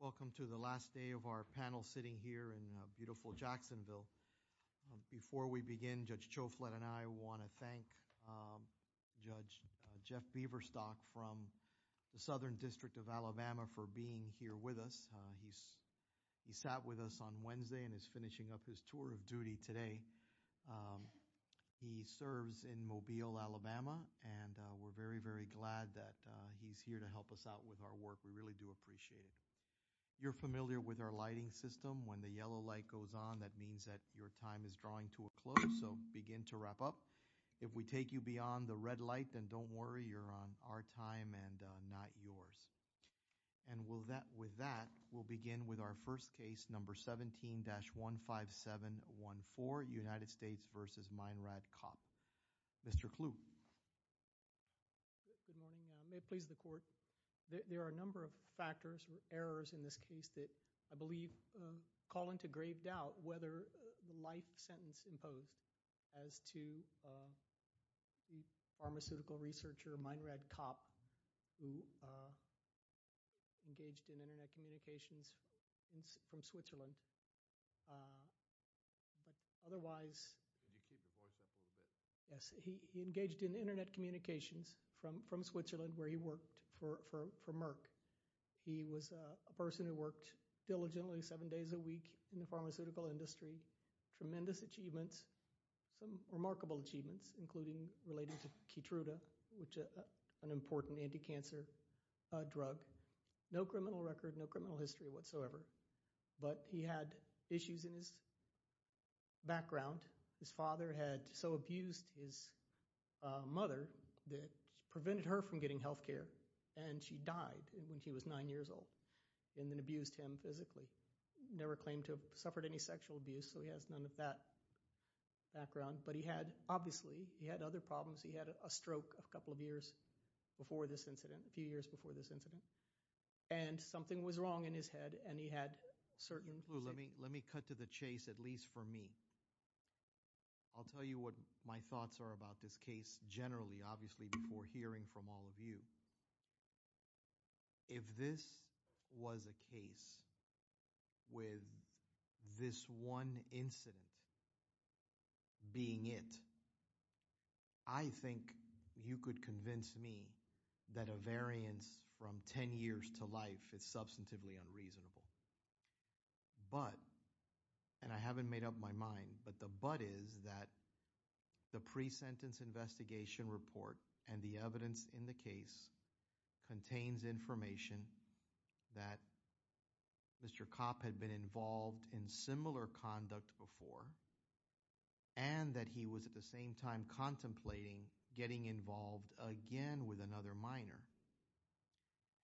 Welcome to the last day of our panel sitting here in beautiful Jacksonville. Before we begin, Judge Chouflette and I want to thank Judge Jeff Beaverstock from the Southern District of Alabama for being here with us. He sat with us on Wednesday and is finishing up his tour of duty today. He serves in Mobile, Alabama, and we're very, very glad that he's here to help us out with our work. We really do appreciate it. You're familiar with our lighting system. When the yellow light goes on, that means that your time is drawing to a close, so begin to wrap up. If we take you beyond the red light, then don't worry, you're on our time and not yours. And with that, we'll begin with our first case, number 17-15714, United States v. Meinrad Kopp. Mr. Kluge. Good morning. May it please the Court. There are a number of factors or errors in this case that I believe call into grave doubt whether the life sentence imposed as to the pharmaceutical researcher, Meinrad Kopp, who engaged in Internet communications from Switzerland. But otherwise... Can you keep the voice up a little bit? Yes. He engaged in Internet communications from Switzerland, where he worked for Merck. He was a person who worked diligently seven days a week in the pharmaceutical industry. Tremendous achievements, some remarkable achievements, including related to Keytruda, which is an important anti-cancer drug. No criminal record, no criminal history whatsoever. But he had issues in his background. His father had so abused his mother that it prevented her from getting health care. And she died when he was nine years old, and then abused him physically. Never claimed to have suffered any sexual abuse, so he has none of that background. But he had, obviously, he had other problems. He had a stroke a couple of years before this incident, a few years before this incident. And something was wrong in his head, and he had certain... Let me cut to the chase, at least for me. I'll tell you what my thoughts are about this case generally, obviously, before hearing from all of you. If this was a case with this one incident being it, I think you could convince me that a variance from ten years to life is substantively unreasonable. But, and I haven't made up my mind, but the but is that the pre-sentence investigation report and the evidence in the case contains information that Mr. Kopp had been involved in similar conduct before, and that he was at the same time contemplating getting involved again with another minor.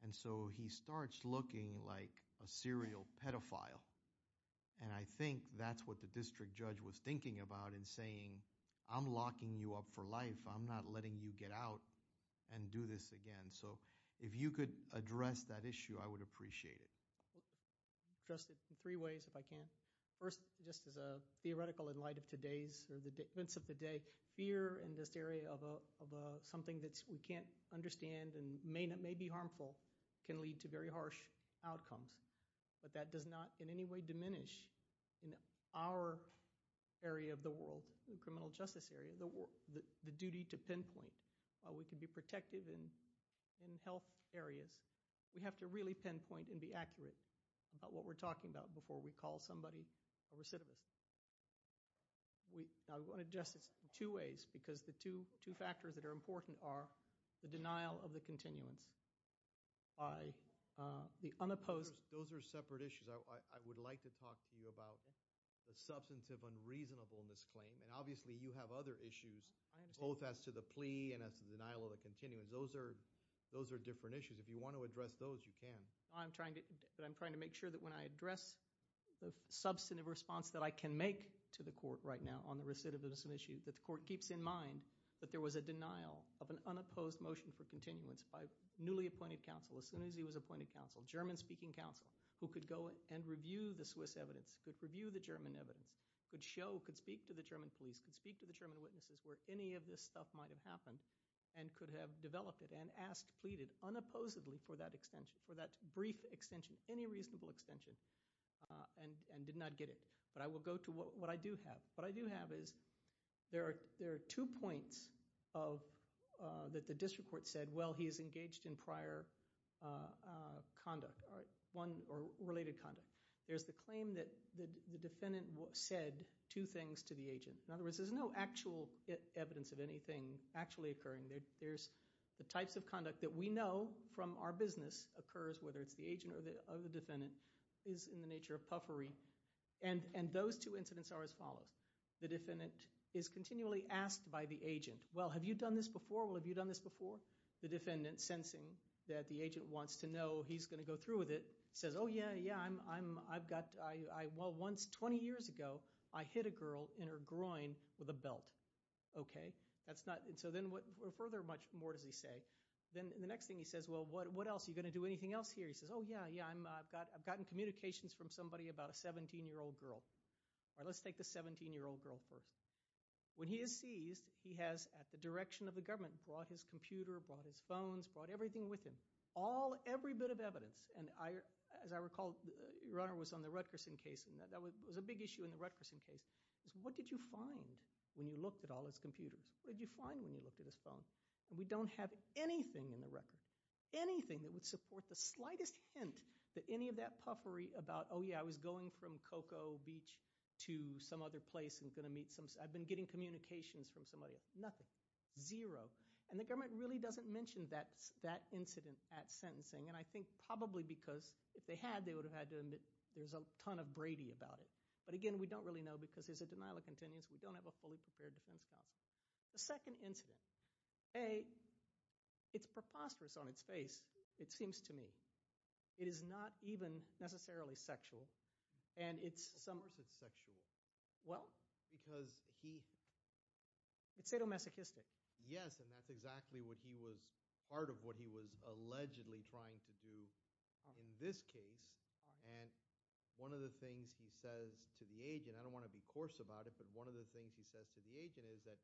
And so, he starts looking like a serial pedophile. And I think that's what the district judge was thinking about in saying, I'm locking you up for life. I'm not letting you get out and do this again. So, if you could address that issue, I would appreciate it. I'll address it in three ways, if I can. First, just as a theoretical in light of today's, or the events of the day, fear in this area of something that we can't understand and may be harmful can lead to very harsh outcomes. But that does not in any way diminish in our area of the world, the criminal justice area, the duty to pinpoint. While we can be protective in health areas, we have to really pinpoint and be accurate about what we're talking about before we call somebody a recidivist. I want to address this in two ways, because the two factors that are important are the denial of the continuance by the unopposed. Those are separate issues. I would like to talk to you about the substantive unreasonableness claim, and obviously you have other issues, both as to the plea and as to the denial of the continuance. Those are different issues. If you want to address those, you can. I'm trying to make sure that when I address the substantive response that I can make to the court right now on the recidivism issue, that the court keeps in mind that there was a denial of an unopposed motion for continuance by newly appointed counsel, as soon as he was appointed counsel, German-speaking counsel, who could go and review the Swiss evidence, could review the German evidence, could show, could speak to the German police, could speak to the German witnesses where any of this stuff might have happened, and could have developed it and asked, pleaded unopposedly for that extension, for that brief extension, any reasonable extension, and did not get it. But I will go to what I do have. What I do have is there are two points that the district court said, well, he is engaged in prior conduct or related conduct. There's the claim that the defendant said two things to the agent. In other words, there's no actual evidence of anything actually occurring. There's the types of conduct that we know from our business occurs, whether it's the agent or the defendant, is in the nature of puffery. And those two incidents are as follows. The defendant is continually asked by the agent, well, have you done this before? Well, have you done this before? The defendant, sensing that the agent wants to know, he's going to go through with it, says, oh, yeah, yeah, I've got, well, once, 20 years ago, I hit a girl in her groin with a belt. Okay? That's not, and so then what, further, much more does he say, then the next thing he says, well, what else? Are you going to do anything else here? He says, oh, yeah, yeah, I've gotten communications from somebody about a 17-year-old girl. All right, let's take the 17-year-old girl first. When he is seized, he has, at the direction of the government, brought his computer, brought his phones, brought everything with him, all, every bit of evidence. And as I recall, your Honor was on the Rutgerson case, and that was a big issue in the Rutgerson case, is what did you find when you looked at all his computers? What did you find when you looked at his phone? We don't have anything in the record, anything that would support the slightest hint that any of that puffery about, oh, yeah, I was going from Cocoa Beach to some other place and going to meet some, I've been getting communications from somebody, nothing, zero. And the government really doesn't mention that incident at sentencing, and I think probably because if they had, they would have had to admit there's a ton of Brady about it. But again, we don't really know because there's a denial of contingency. We don't have a fully prepared defense counsel. The second incident, A, it's preposterous on its face, it seems to me. It is not even necessarily sexual, and it's some— Of course it's sexual. Well— Because he— It's sadomasochistic. Yes, and that's exactly what he was, part of what he was allegedly trying to do in this case, and one of the things he says to the agent, I don't want to be coarse about it, but one of the things he says to the agent is that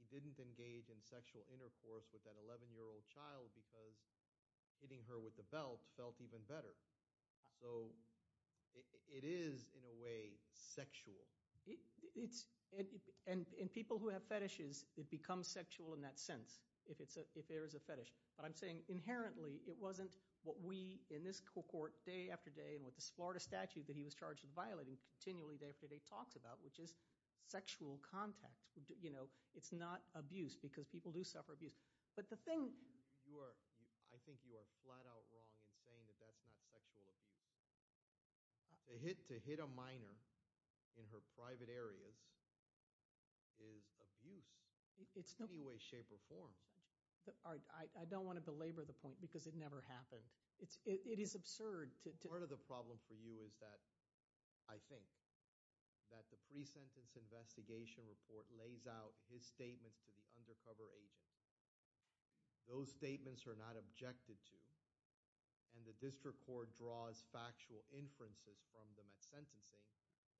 he didn't engage in sexual intercourse with that 11-year-old child because hitting her with the belt felt even better. So it is, in a way, sexual. It's—and people who have fetishes, it becomes sexual in that sense if there is a fetish. But I'm saying inherently, it wasn't what we, in this court, day after day, and with the Florida statute that he was charged with violating, continually, day after day, talks about, which is sexual contact. It's not abuse because people do suffer abuse. But the thing— I think you are flat out wrong in saying that that's not sexual abuse. To hit a minor in her private areas is abuse in any way, shape, or form. I don't want to belabor the point because it never happened. It is absurd to— Part of the problem for you is that, I think, that the pre-sentence investigation report lays out his statements to the undercover agent. Those statements are not objected to, and the district court draws factual inferences from the sentencing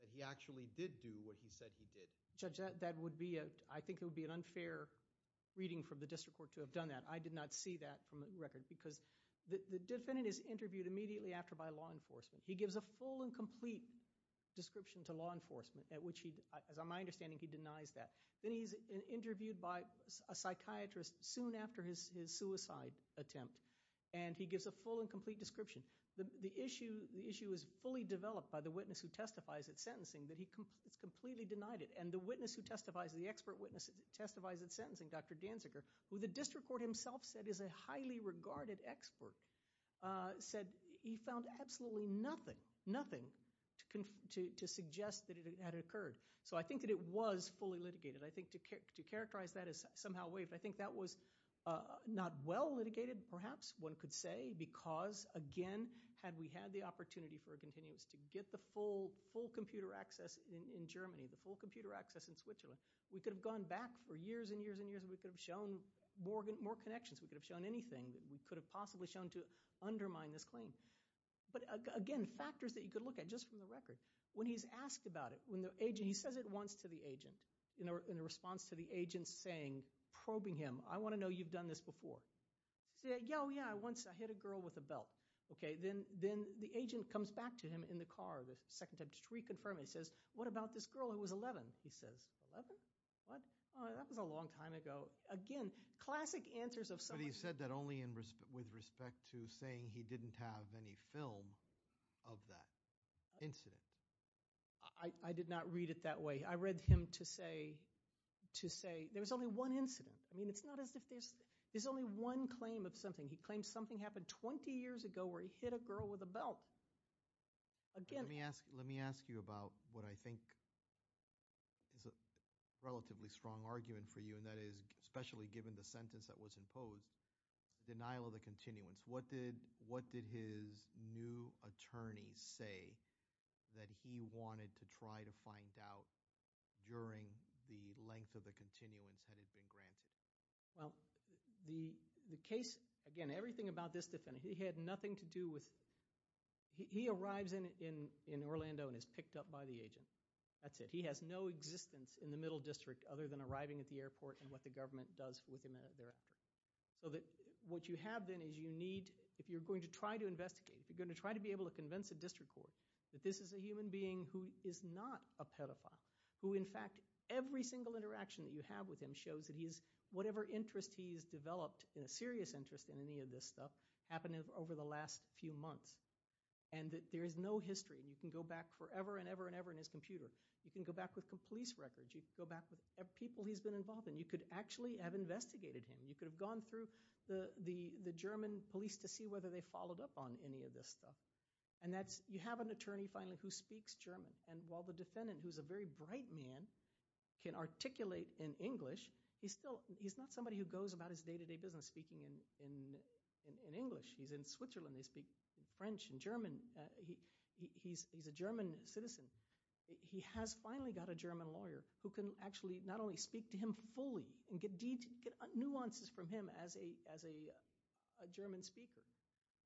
that he actually did do what he said he did. Judge, that would be, I think it would be an unfair reading from the district court to have done that. I did not see that from the record because the defendant is interviewed immediately after by law enforcement. He gives a full and complete description to law enforcement at which he, as my understanding, he denies that. Then he's interviewed by a psychiatrist soon after his suicide attempt, and he gives a full and complete description. The issue is fully developed by the witness who testifies at sentencing that he completely denied it. The witness who testifies, the expert witness who testifies at sentencing, Dr. Danziger, who the district court himself said is a highly regarded expert, said he found absolutely nothing, nothing to suggest that it had occurred. I think that it was fully litigated. To characterize that as somehow waived, I think that was not well litigated, perhaps one could say, because, again, had we had the opportunity for a continuance to get the full computer access in Germany, the full computer access in Switzerland, we could have gone back for years and years and years, and we could have shown more connections. We could have shown anything. We could have possibly shown to undermine this claim. But, again, factors that you could look at just from the record. When he's asked about it, when the agent, he says it once to the agent in a response to the agent saying, probing him, I want to know you've done this before. Say, oh, yeah, I once hit a girl with a belt. Okay, then the agent comes back to him in the car the second time to reconfirm. He says, what about this girl who was 11? He says, 11? What? Oh, that was a long time ago. Again, classic answers of somebody. But he said that only with respect to saying he didn't have any film of that incident. I did not read it that way. I read him to say there was only one incident. I mean, it's not as if there's only one claim of something. He claims something happened 20 years ago where he hit a girl with a belt. Again. Let me ask you about what I think is a relatively strong argument for you, and that is especially given the sentence that was imposed, denial of the continuance. What did his new attorney say that he wanted to try to find out during the length of the continuance had it been granted? Well, the case, again, everything about this defendant, he had nothing to do with – he arrives in Orlando and is picked up by the agent. That's it. He has no existence in the middle district other than arriving at the airport and what the government does with him thereafter. So that what you have then is you need – if you're going to try to investigate, if you're going to try to be able to convince a district court that this is a human being who is not a pedophile, who in fact every single interaction that you have with him shows that whatever interest he has developed, a serious interest in any of this stuff, happened over the last few months and that there is no history. You can go back forever and ever and ever in his computer. You can go back with police records. You can go back with people he's been involved in. You could actually have investigated him. You could have gone through the German police to see whether they followed up on any of this stuff. And that's – you have an attorney finally who speaks German. And while the defendant, who is a very bright man, can articulate in English, he's not somebody who goes about his day-to-day business speaking in English. He's in Switzerland. They speak French and German. He's a German citizen. He has finally got a German lawyer who can actually not only speak to him fully and get nuances from him as a German speaker,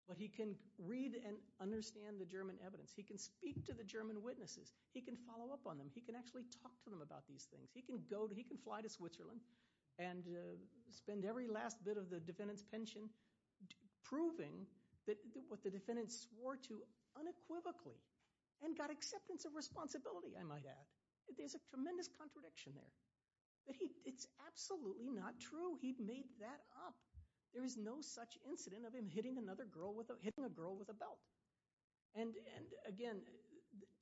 but he can read and understand the German evidence. He can speak to the German witnesses. He can follow up on them. He can actually talk to them about these things. He can fly to Switzerland and spend every last bit of the defendant's pension proving what the defendant swore to unequivocally and got acceptance of responsibility, I might add. There's a tremendous contradiction there. It's absolutely not true. He made that up. There is no such incident of him hitting a girl with a belt. And again,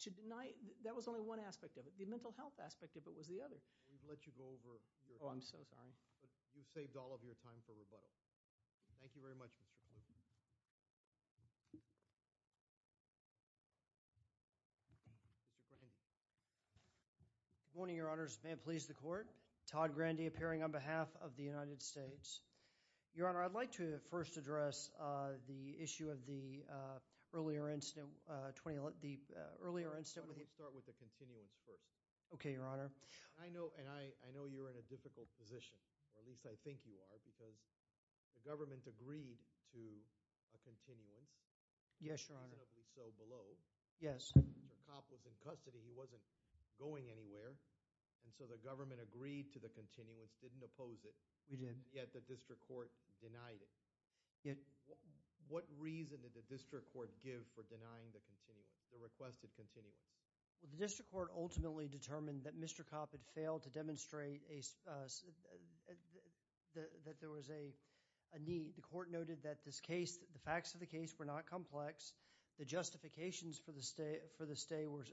to deny, that was only one aspect of it. The mental health aspect of it was the other. We've let you go over your time. Oh, I'm so sorry. You've saved all of your time for rebuttal. Thank you very much, Mr. Kluge. Good morning, Your Honors. May it please the Court. Todd Grandy appearing on behalf of the United States. Your Honor, I'd like to first address the issue of the earlier incident. I want to start with the continuance first. Okay, Your Honor. I know you're in a difficult position. At least I think you are because the government agreed to a continuance. Yes, Your Honor. Reasonably so below. Yes. The cop was in custody. He wasn't going anywhere. And so the government agreed to the continuance, didn't oppose it. We did. Yet the district court denied it. Yet. What reason did the district court give for denying the continuance, the requested continuance? Well, the district court ultimately determined that Mr. Copp had failed to demonstrate that there was a need. The court noted that this case, the facts of the case were not complex. The justifications for the stay were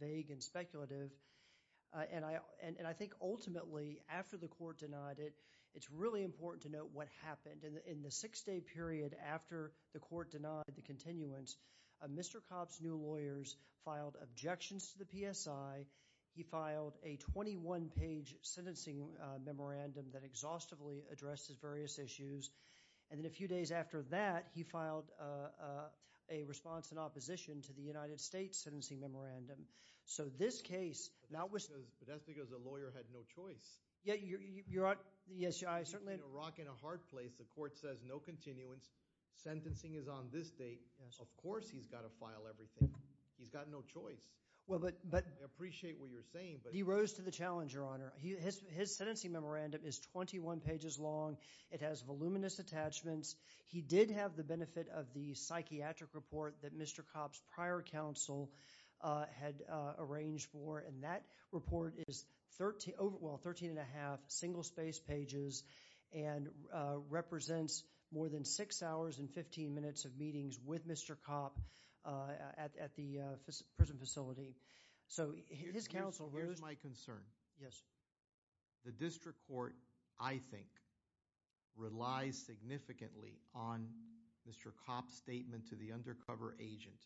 vague and speculative. And I think ultimately, after the court denied it, it's really important to note what happened. In the six-day period after the court denied the continuance, Mr. Copp's new lawyers filed objections to the PSI. He filed a 21-page sentencing memorandum that exhaustively addressed his various issues. And then a few days after that, he filed a response in opposition to the United States sentencing memorandum. So this case now was... But that's because the lawyer had no choice. Yeah, Your Honor. Yes, I certainly... The court says no continuance. Sentencing is on this date. Of course he's got to file everything. He's got no choice. Well, but... I appreciate what you're saying, but... He rose to the challenge, Your Honor. His sentencing memorandum is 21 pages long. It has voluminous attachments. He did have the benefit of the psychiatric report that Mr. Copp's prior counsel had arranged for. And that report is 13 and a half single-space pages and represents more than six hours and 15 minutes of meetings with Mr. Copp at the prison facility. So his counsel rose... Here's my concern. Yes. The district court, I think, relies significantly on Mr. Copp's statement to the undercover agent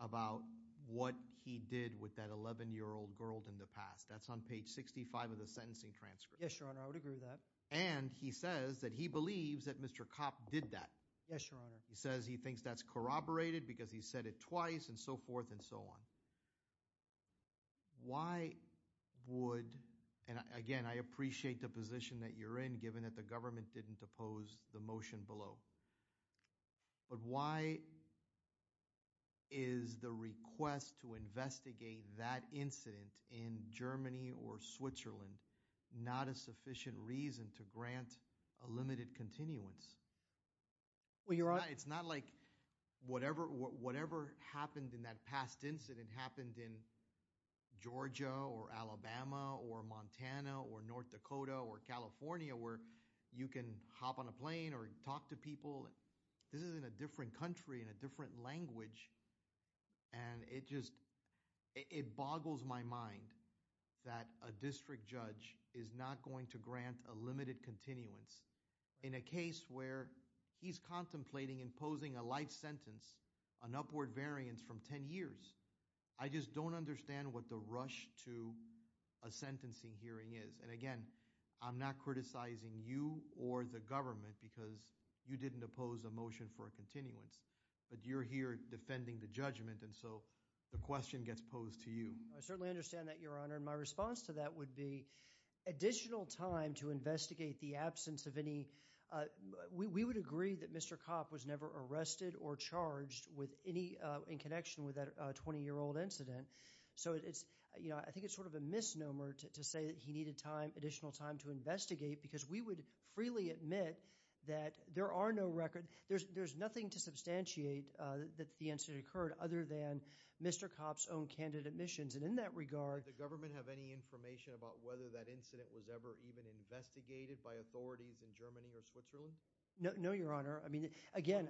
about what he did with that 11-year-old girl in the past. That's on page 65 of the sentencing transcript. Yes, Your Honor. I would agree with that. And he says that he believes that Mr. Copp did that. Yes, Your Honor. He says he thinks that's corroborated because he's said it twice and so forth and so on. Why would... And again, I appreciate the position that you're in given that the government didn't oppose the motion below. But why is the request to investigate that incident in Germany or Switzerland not a sufficient reason to grant a limited continuance? Well, Your Honor... It's not like whatever happened in that past incident happened in Georgia or Alabama or Montana or North Dakota or California where you can hop on a plane or talk to people. This is in a different country, in a different language. And it just... It boggles my mind that a district judge is not going to grant a limited continuance in a case where he's contemplating imposing a life sentence, an upward variance from 10 years. I just don't understand what the rush to a sentencing hearing is. And again, I'm not criticizing you or the government because you didn't oppose a motion for a continuance. But you're here defending the judgment. And so the question gets posed to you. I certainly understand that, Your Honor. And my response to that would be additional time to investigate the absence of any... We would agree that Mr. Kopp was never arrested or charged in connection with that 20-year-old incident. So I think it's sort of a misnomer to say that he needed additional time to investigate because we would freely admit that there are no record... There's nothing to substantiate that the incident occurred other than Mr. Kopp's own candidate missions. And in that regard... Did the government have any information about whether that incident was ever even investigated by authorities in Germany or Switzerland? No, Your Honor. One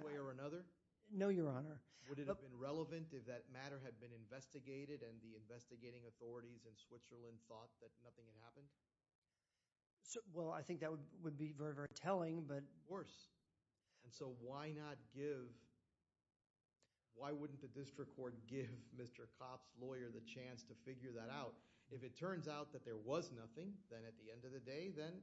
way or another? No, Your Honor. Would it have been relevant if that matter had been investigated and the investigating authorities in Switzerland thought that nothing had happened? Well, I think that would be very, very telling, but... It would be worse. And so why not give... Why wouldn't the district court give Mr. Kopp's lawyer the chance to figure that out? If it turns out that there was nothing, then at the end of the day, then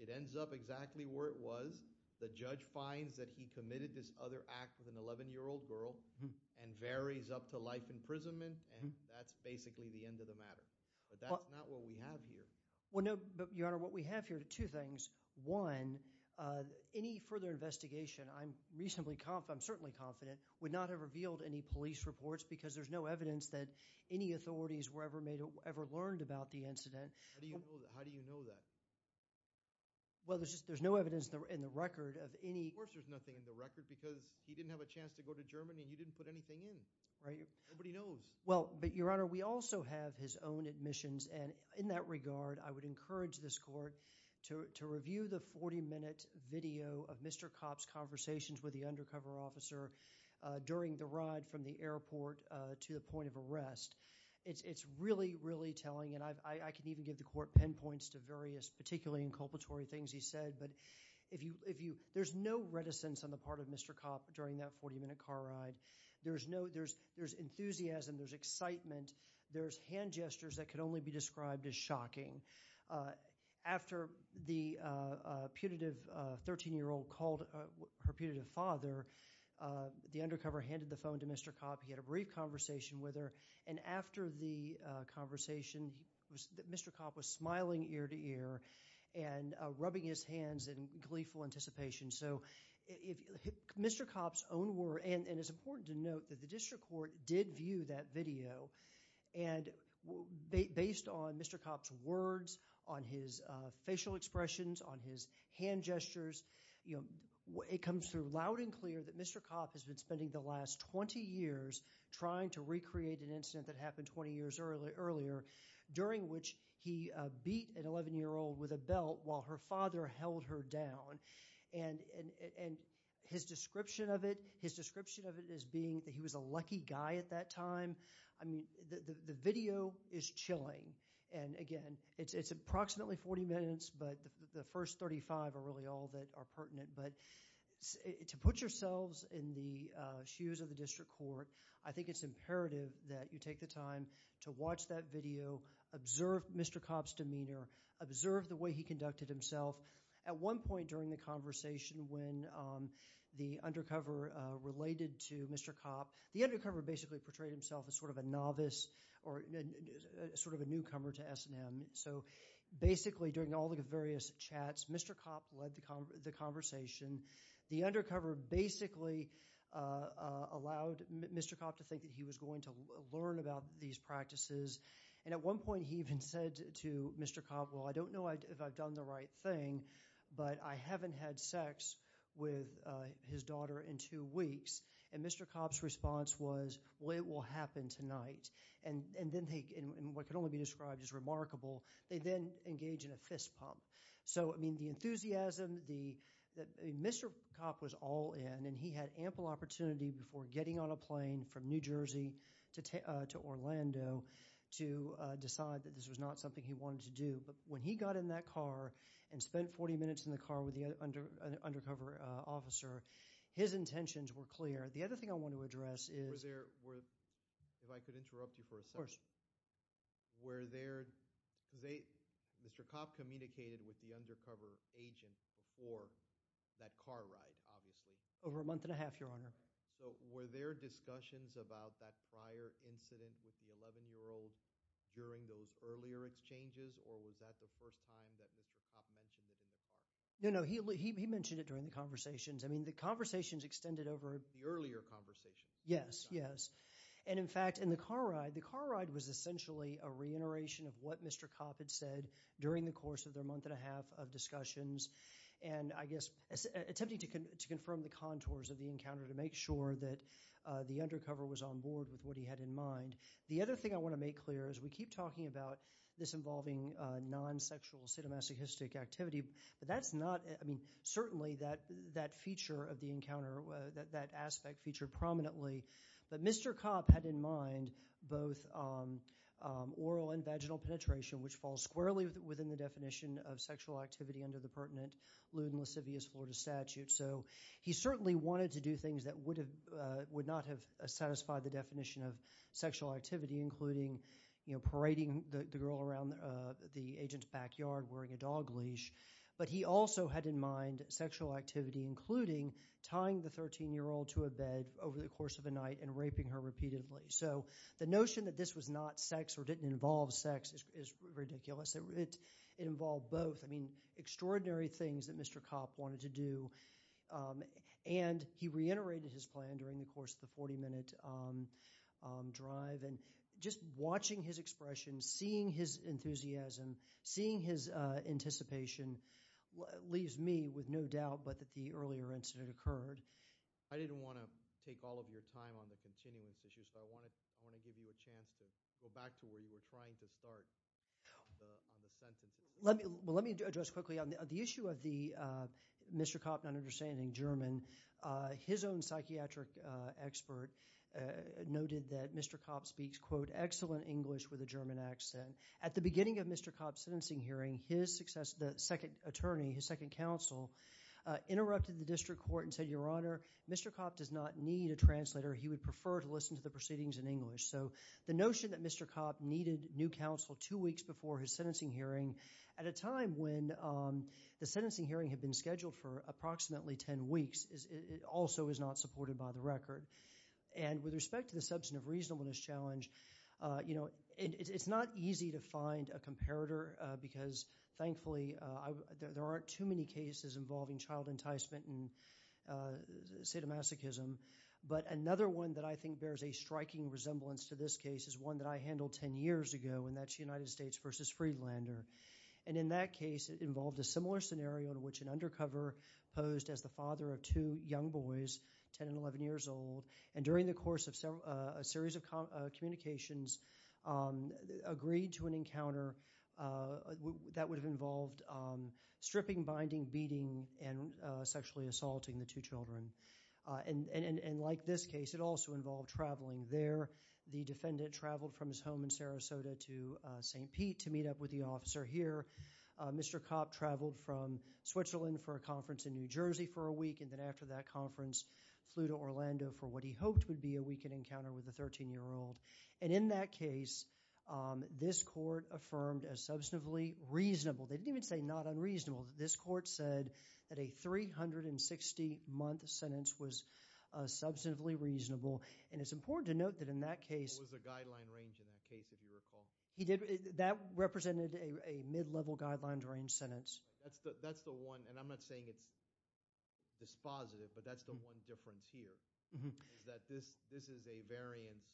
it ends up exactly where it was. The judge finds that he committed this other act with an 11-year-old girl and varies up to life imprisonment, and that's basically the end of the matter. But that's not what we have here. Well, no, Your Honor. What we have here are two things. One, any further investigation, I'm certainly confident, would not have revealed any police reports because there's no evidence that any authorities were ever learned about the incident. How do you know that? Well, there's no evidence in the record of any... Of course there's nothing in the record because he didn't have a chance to go to Germany and you didn't put anything in. Nobody knows. Well, but Your Honor, we also have his own admissions and in that regard, I would encourage this court to review the 40-minute video of Mr. Kopp's conversations with the undercover officer during the ride from the airport to the point of arrest. It's really, really telling and I can even give the court pinpoints to various, particularly inculpatory things he said, but there's no reticence on the part of Mr. Kopp during that 40-minute car ride. There's enthusiasm, there's excitement, there's hand gestures that can only be described as shocking. After the putative 13-year-old called her putative father, the undercover handed the phone to Mr. Kopp, he had a brief conversation with her and after the conversation, Mr. Kopp was smiling ear-to-ear and rubbing his hands in gleeful anticipation. Mr. Kopp's own words and it's important to note that the district court did view that video and based on Mr. Kopp's words, on his facial expressions, on his hand gestures, it comes through loud and clear that Mr. Kopp has been spending the last 20 years trying to recreate an incident that happened 20 years earlier, during which he beat an 11-year-old with a belt while her father held her down and his description of it is being that he was a lucky guy at that time. The video is chilling and again it's approximately 40 minutes but the first 35 are really all that are pertinent but to put yourselves in the shoes of the district court, I think it's imperative that you take the time to watch that video, observe Mr. Kopp's demeanor, observe the way he conducted himself at one point during the conversation when the undercover related to Mr. Kopp, the undercover basically portrayed himself as sort of a novice or sort of a newcomer to S&M so basically during all the various chats, Mr. Kopp led the conversation, the undercover basically allowed Mr. Kopp to think that he was going to learn about these practices and at one point he even said to Mr. Kopp well I don't know if I've done the right thing but I haven't had sex with his daughter in two weeks and Mr. Kopp's response was well it will happen tonight and then what can only be described as remarkable they then engage in a fist pump so I mean the enthusiasm that Mr. Kopp was all in and he had ample opportunity before getting on a plane from New Jersey to Orlando to decide that this was not something he wanted to do but when he got in that car and spent 40 minutes in the car with the undercover officer, his intentions were clear. The other thing I want to address were there if I could interrupt you for a second were there Mr. Kopp communicated with the undercover agent before that car ride over a month and a half your honor were there discussions about that prior incident with the 11 year old during those earlier exchanges or was that the first time that Mr. Kopp mentioned it in the car no no he mentioned it during the conversations I mean the conversations extended over the earlier conversations yes yes and in fact in the car ride the car ride was essentially a reiteration of what Mr. Kopp had said during the course of their month and a half of discussions and I guess attempting to confirm the contours of the encounter to make sure that the undercover was on board with what he had in mind. The other thing I want to make clear is we keep talking about this involving non-sexual sadomasochistic activity but that's not I mean certainly that feature of the encounter that aspect featured prominently but Mr. Kopp had in mind both oral and vaginal penetration which falls squarely within the definition of sexual activity under the pertinent lewd and lascivious Florida statute so he certainly wanted to do things that would not have satisfied the definition of sexual activity including you know parading the girl around the agent's backyard wearing a dog leash but he also had in mind sexual activity including tying the 13-year-old to a bed over the course of a night and raping her repeatedly so the notion that this was not sex or didn't involve sex is ridiculous it involved both I mean extraordinary things that Mr. Kopp wanted to do and he reiterated his plan during the course of the 40-minute drive and just watching his expression, seeing his enthusiasm, seeing his anticipation leaves me with no doubt but that the earlier incident occurred. I didn't want to take all of your time on the continuance issues but I want to give you a chance to go back to where you were trying to start on the sentences. Let me address quickly on the issue of the Mr. Kopp not understanding German his own psychiatric expert noted that Mr. Kopp speaks quote excellent English with a German accent. At the beginning of Mr. Kopp's sentencing hearing his second attorney his second counsel interrupted the district court and said your honor Mr. Kopp does not need a translator he would prefer to listen to the proceedings in English so the notion that Mr. Kopp needed new counsel two weeks before his sentencing hearing at a time when the sentencing hearing had been scheduled for approximately 10 weeks also is not supported by the record and with respect to the substantive reasonableness challenge it's not easy to find a comparator because thankfully there aren't too many cases involving child enticement and sadomasochism but another one that I think bears a striking resemblance to this case is one that I handled 10 years ago and that's United States vs. Freelander and in that case it involved a similar scenario in which an undercover posed as the father of two young boys 10 and 11 years old and during the course of a series of communications agreed to an encounter that would have involved stripping, binding, beating and sexually assaulting the two children and like this case it also involved traveling there the defendant traveled from his home in Sarasota to St. Pete to meet up with the officer here, Mr. Kopp traveled from Switzerland for a conference in New Jersey for a week and then after that conference flew to Orlando for what he hoped would be a weekend encounter with a 13 year old and in that case this court affirmed as substantively reasonable they didn't even say not unreasonable, this court said that a 360 month sentence was substantively reasonable and it's a guideline range in that case if you recall that represented a mid-level guideline range sentence that's the one and I'm not saying it's dispositive but that's the one difference here is that this is a variance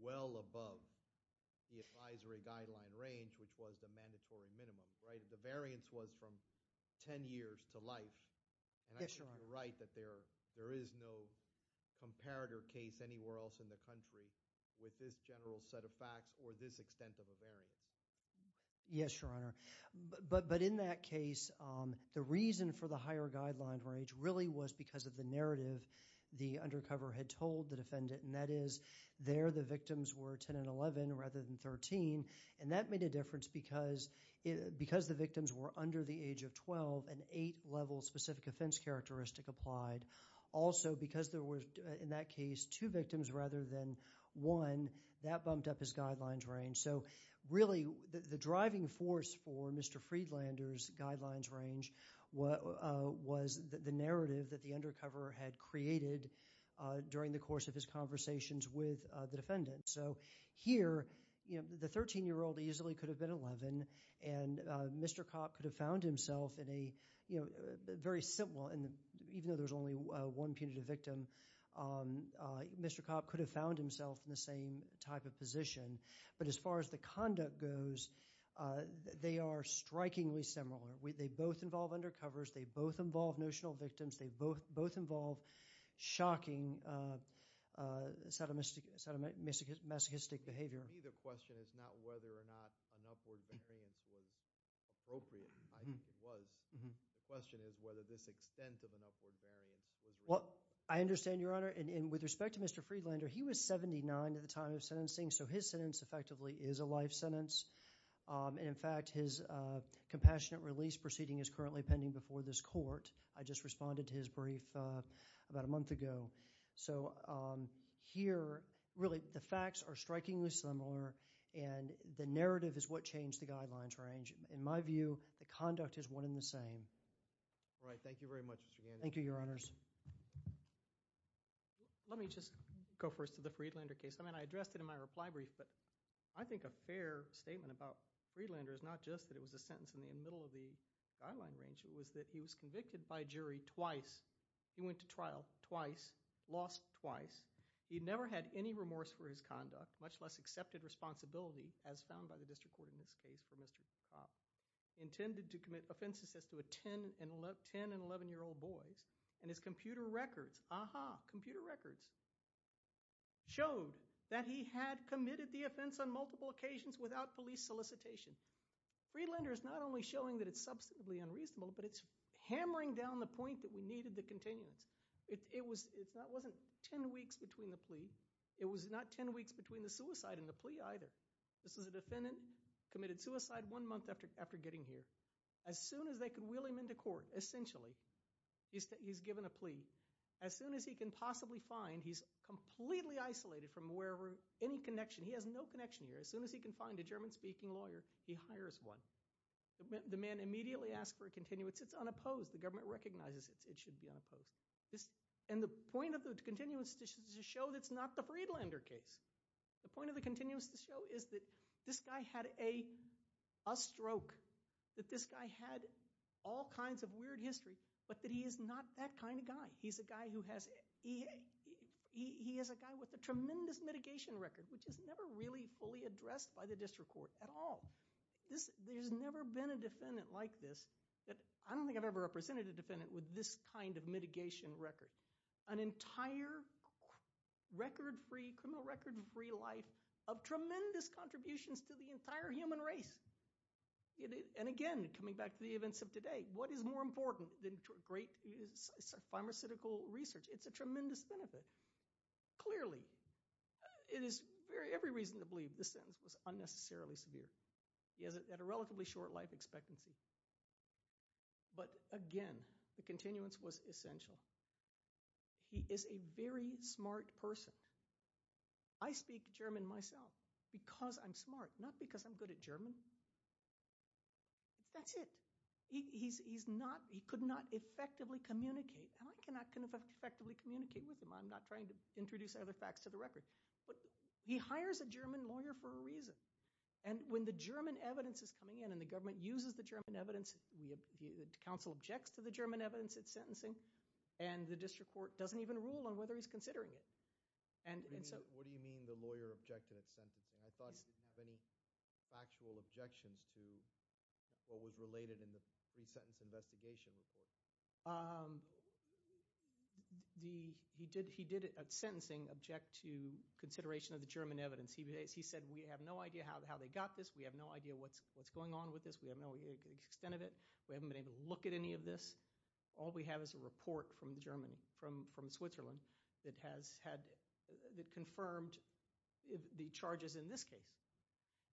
well above the advisory guideline range which was the mandatory minimum the variance was from 10 years to life and I think you're right that there is no comparator case anywhere else in the country with this general set of facts or this extent of a variance. Yes, Your Honor but in that case the reason for the higher guideline range really was because of the narrative the undercover had told the defendant and that is there the victims were 10 and 11 rather than 13 and that made a difference because the victims were under the age of 12 and 8 level specific offense characteristic applied also because there was in that case two victims rather than one that bumped up his guidelines range so really the driving force for Mr. Friedlander's guidelines range was the narrative that the undercover had created during the course of his conversations with the defendant so here the 13 year old easily could have been 11 and Mr. Copp could have found himself in a very simple and even though there was only one punitive victim Mr. Copp could have found himself in the same type of position but as far as the conduct goes they are strikingly similar. They both involve undercovers they both involve notional victims they both involve shocking sadomasochistic behavior For me the question is not whether or not an upward variance was appropriate. I think it was The question is whether this extent of an upward variance was I understand your honor and with respect to Mr. Friedlander he was 79 at the time of sentencing so his sentence effectively is a life sentence and in fact his compassionate release proceeding is currently pending before this court. I just responded to his brief about a month ago so here really the facts are strikingly similar and the narrative is what changed the guidelines range In my view the conduct is one in the same. Thank you very much Thank you your honors Let me just go first to the Friedlander case I addressed it in my reply brief but I think a fair statement about Friedlander is not just that it was a sentence in the middle of the guideline range it was that he was convicted by jury twice he went to trial twice lost twice. He never had any remorse for his conduct much less accepted responsibility as found by the district court in this case for Mr. intended to commit offenses as to a 10 and 11 year old boys and his computer records Aha! Computer records showed that he had committed the offense on multiple occasions without police solicitation Friedlander is not only showing that it's substantively unreasonable but it's hammering down the point that we needed the continuance. It wasn't 10 weeks between the plea it was not 10 weeks between the suicide and the plea either. This is a defendant committed suicide one month after getting here. As soon as they could wheel him into court essentially he's given a plea as soon as he can possibly find he's completely isolated from wherever any connection. He has no connection here as soon as he can find a German speaking lawyer he hires one. The man immediately asks for a continuance. It's unopposed the government recognizes it. It should be unopposed and the point of the continuance is to show that it's not the continuance to show is that this guy had a stroke that this guy had all kinds of weird history but that he is not that kind of guy. He's a guy who has he is a guy with a tremendous mitigation record which is never really fully addressed by the district court at all There's never been a defendant like this. I don't think I've ever represented a defendant with this kind of mitigation record. An entire record free criminal record free life of tremendous contributions to the entire human race and again coming back to the events of today what is more important than great pharmaceutical research it's a tremendous benefit clearly it is every reason to believe this sentence was unnecessarily severe. He has a relatively short life expectancy but again the continuance was essential he is a very smart person I speak German myself because I'm smart not because I'm good at German that's it he could not effectively communicate and I cannot effectively communicate with him. I'm not trying to introduce other facts to the record but he hires a German lawyer for a reason and when the German evidence is coming in and the government uses the German evidence the council objects to the German evidence it's sentencing and the district court doesn't even rule on whether he's considering it What do you mean the lawyer objected at sentencing I thought he didn't have any factual objections to what was related in the pre-sentence investigation report He did at sentencing object to consideration of the German evidence. He said we have no idea how they got this, we have no idea what's going on with this, we have no extent of it we haven't been able to look at any of this all we have is a report from the German, from Switzerland that has had, that confirmed the charges in this case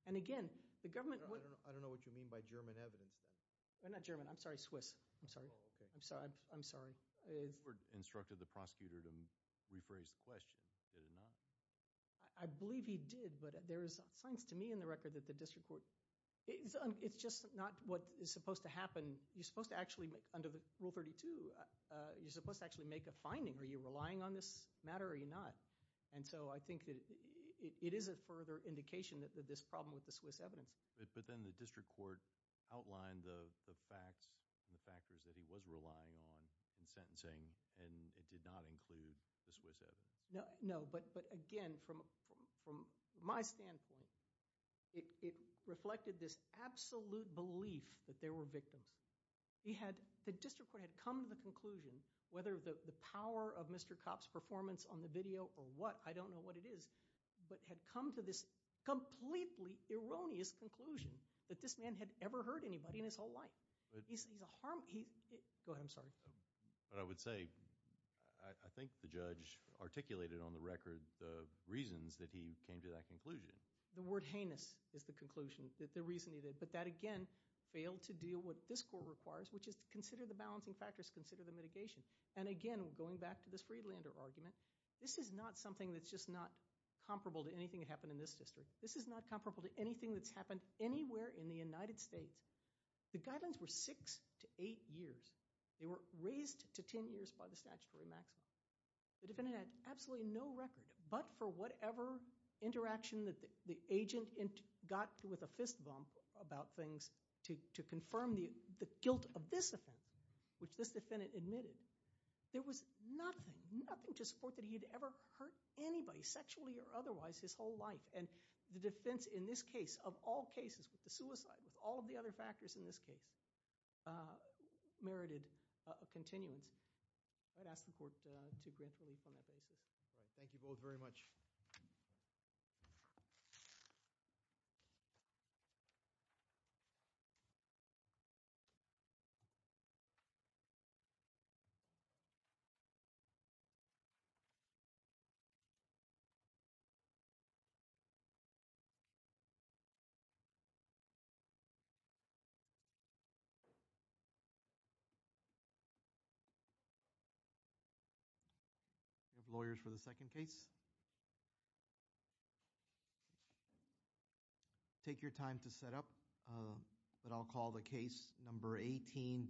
and again the government, I don't know what you mean by German evidence, I'm not German, I'm sorry Swiss, I'm sorry I'm sorry, the court instructed the prosecutor to rephrase the question did it not? I believe he did but there is signs to me in the record that the district court it's just not what is supposed to Rule 32, you're supposed to actually make a finding, are you relying on this matter or are you not? And so I think it is a further indication that this problem with the Swiss evidence But then the district court outlined the facts and the factors that he was relying on in sentencing and it did not include the Swiss evidence No, but again from my standpoint it reflected this absolute belief that there were victims He had, the district court had come to the conclusion, whether the power of Mr. Kopp's performance on the video or what, I don't know what it is but had come to this completely erroneous conclusion that this man had ever heard anybody in his whole life Go ahead, I'm sorry But I would say, I think the judge articulated on the record the reasons that he came to that conclusion. The word heinous is the conclusion, the reason he did but that again, failed to deal with what this court requires, which is to consider the balancing factors, consider the mitigation and again, going back to this Friedlander argument this is not something that's just not comparable to anything that happened in this district This is not comparable to anything that's happened anywhere in the United States The guidelines were 6 to 8 years. They were raised to 10 years by the statutory maximum The defendant had absolutely no record, but for whatever interaction that the agent got with a fist bump about things to confirm the guilt of this offense which this defendant admitted there was nothing, nothing to support that he had ever hurt anybody sexually or otherwise his whole life and the defense in this case, of all cases, with the suicide, with all of the other factors in this case merited a continuance I'd ask the court to grant relief on that basis Thank you both very much................................. Lawyers for the second case...... Take your time to set up But I'll call the case number.........................................................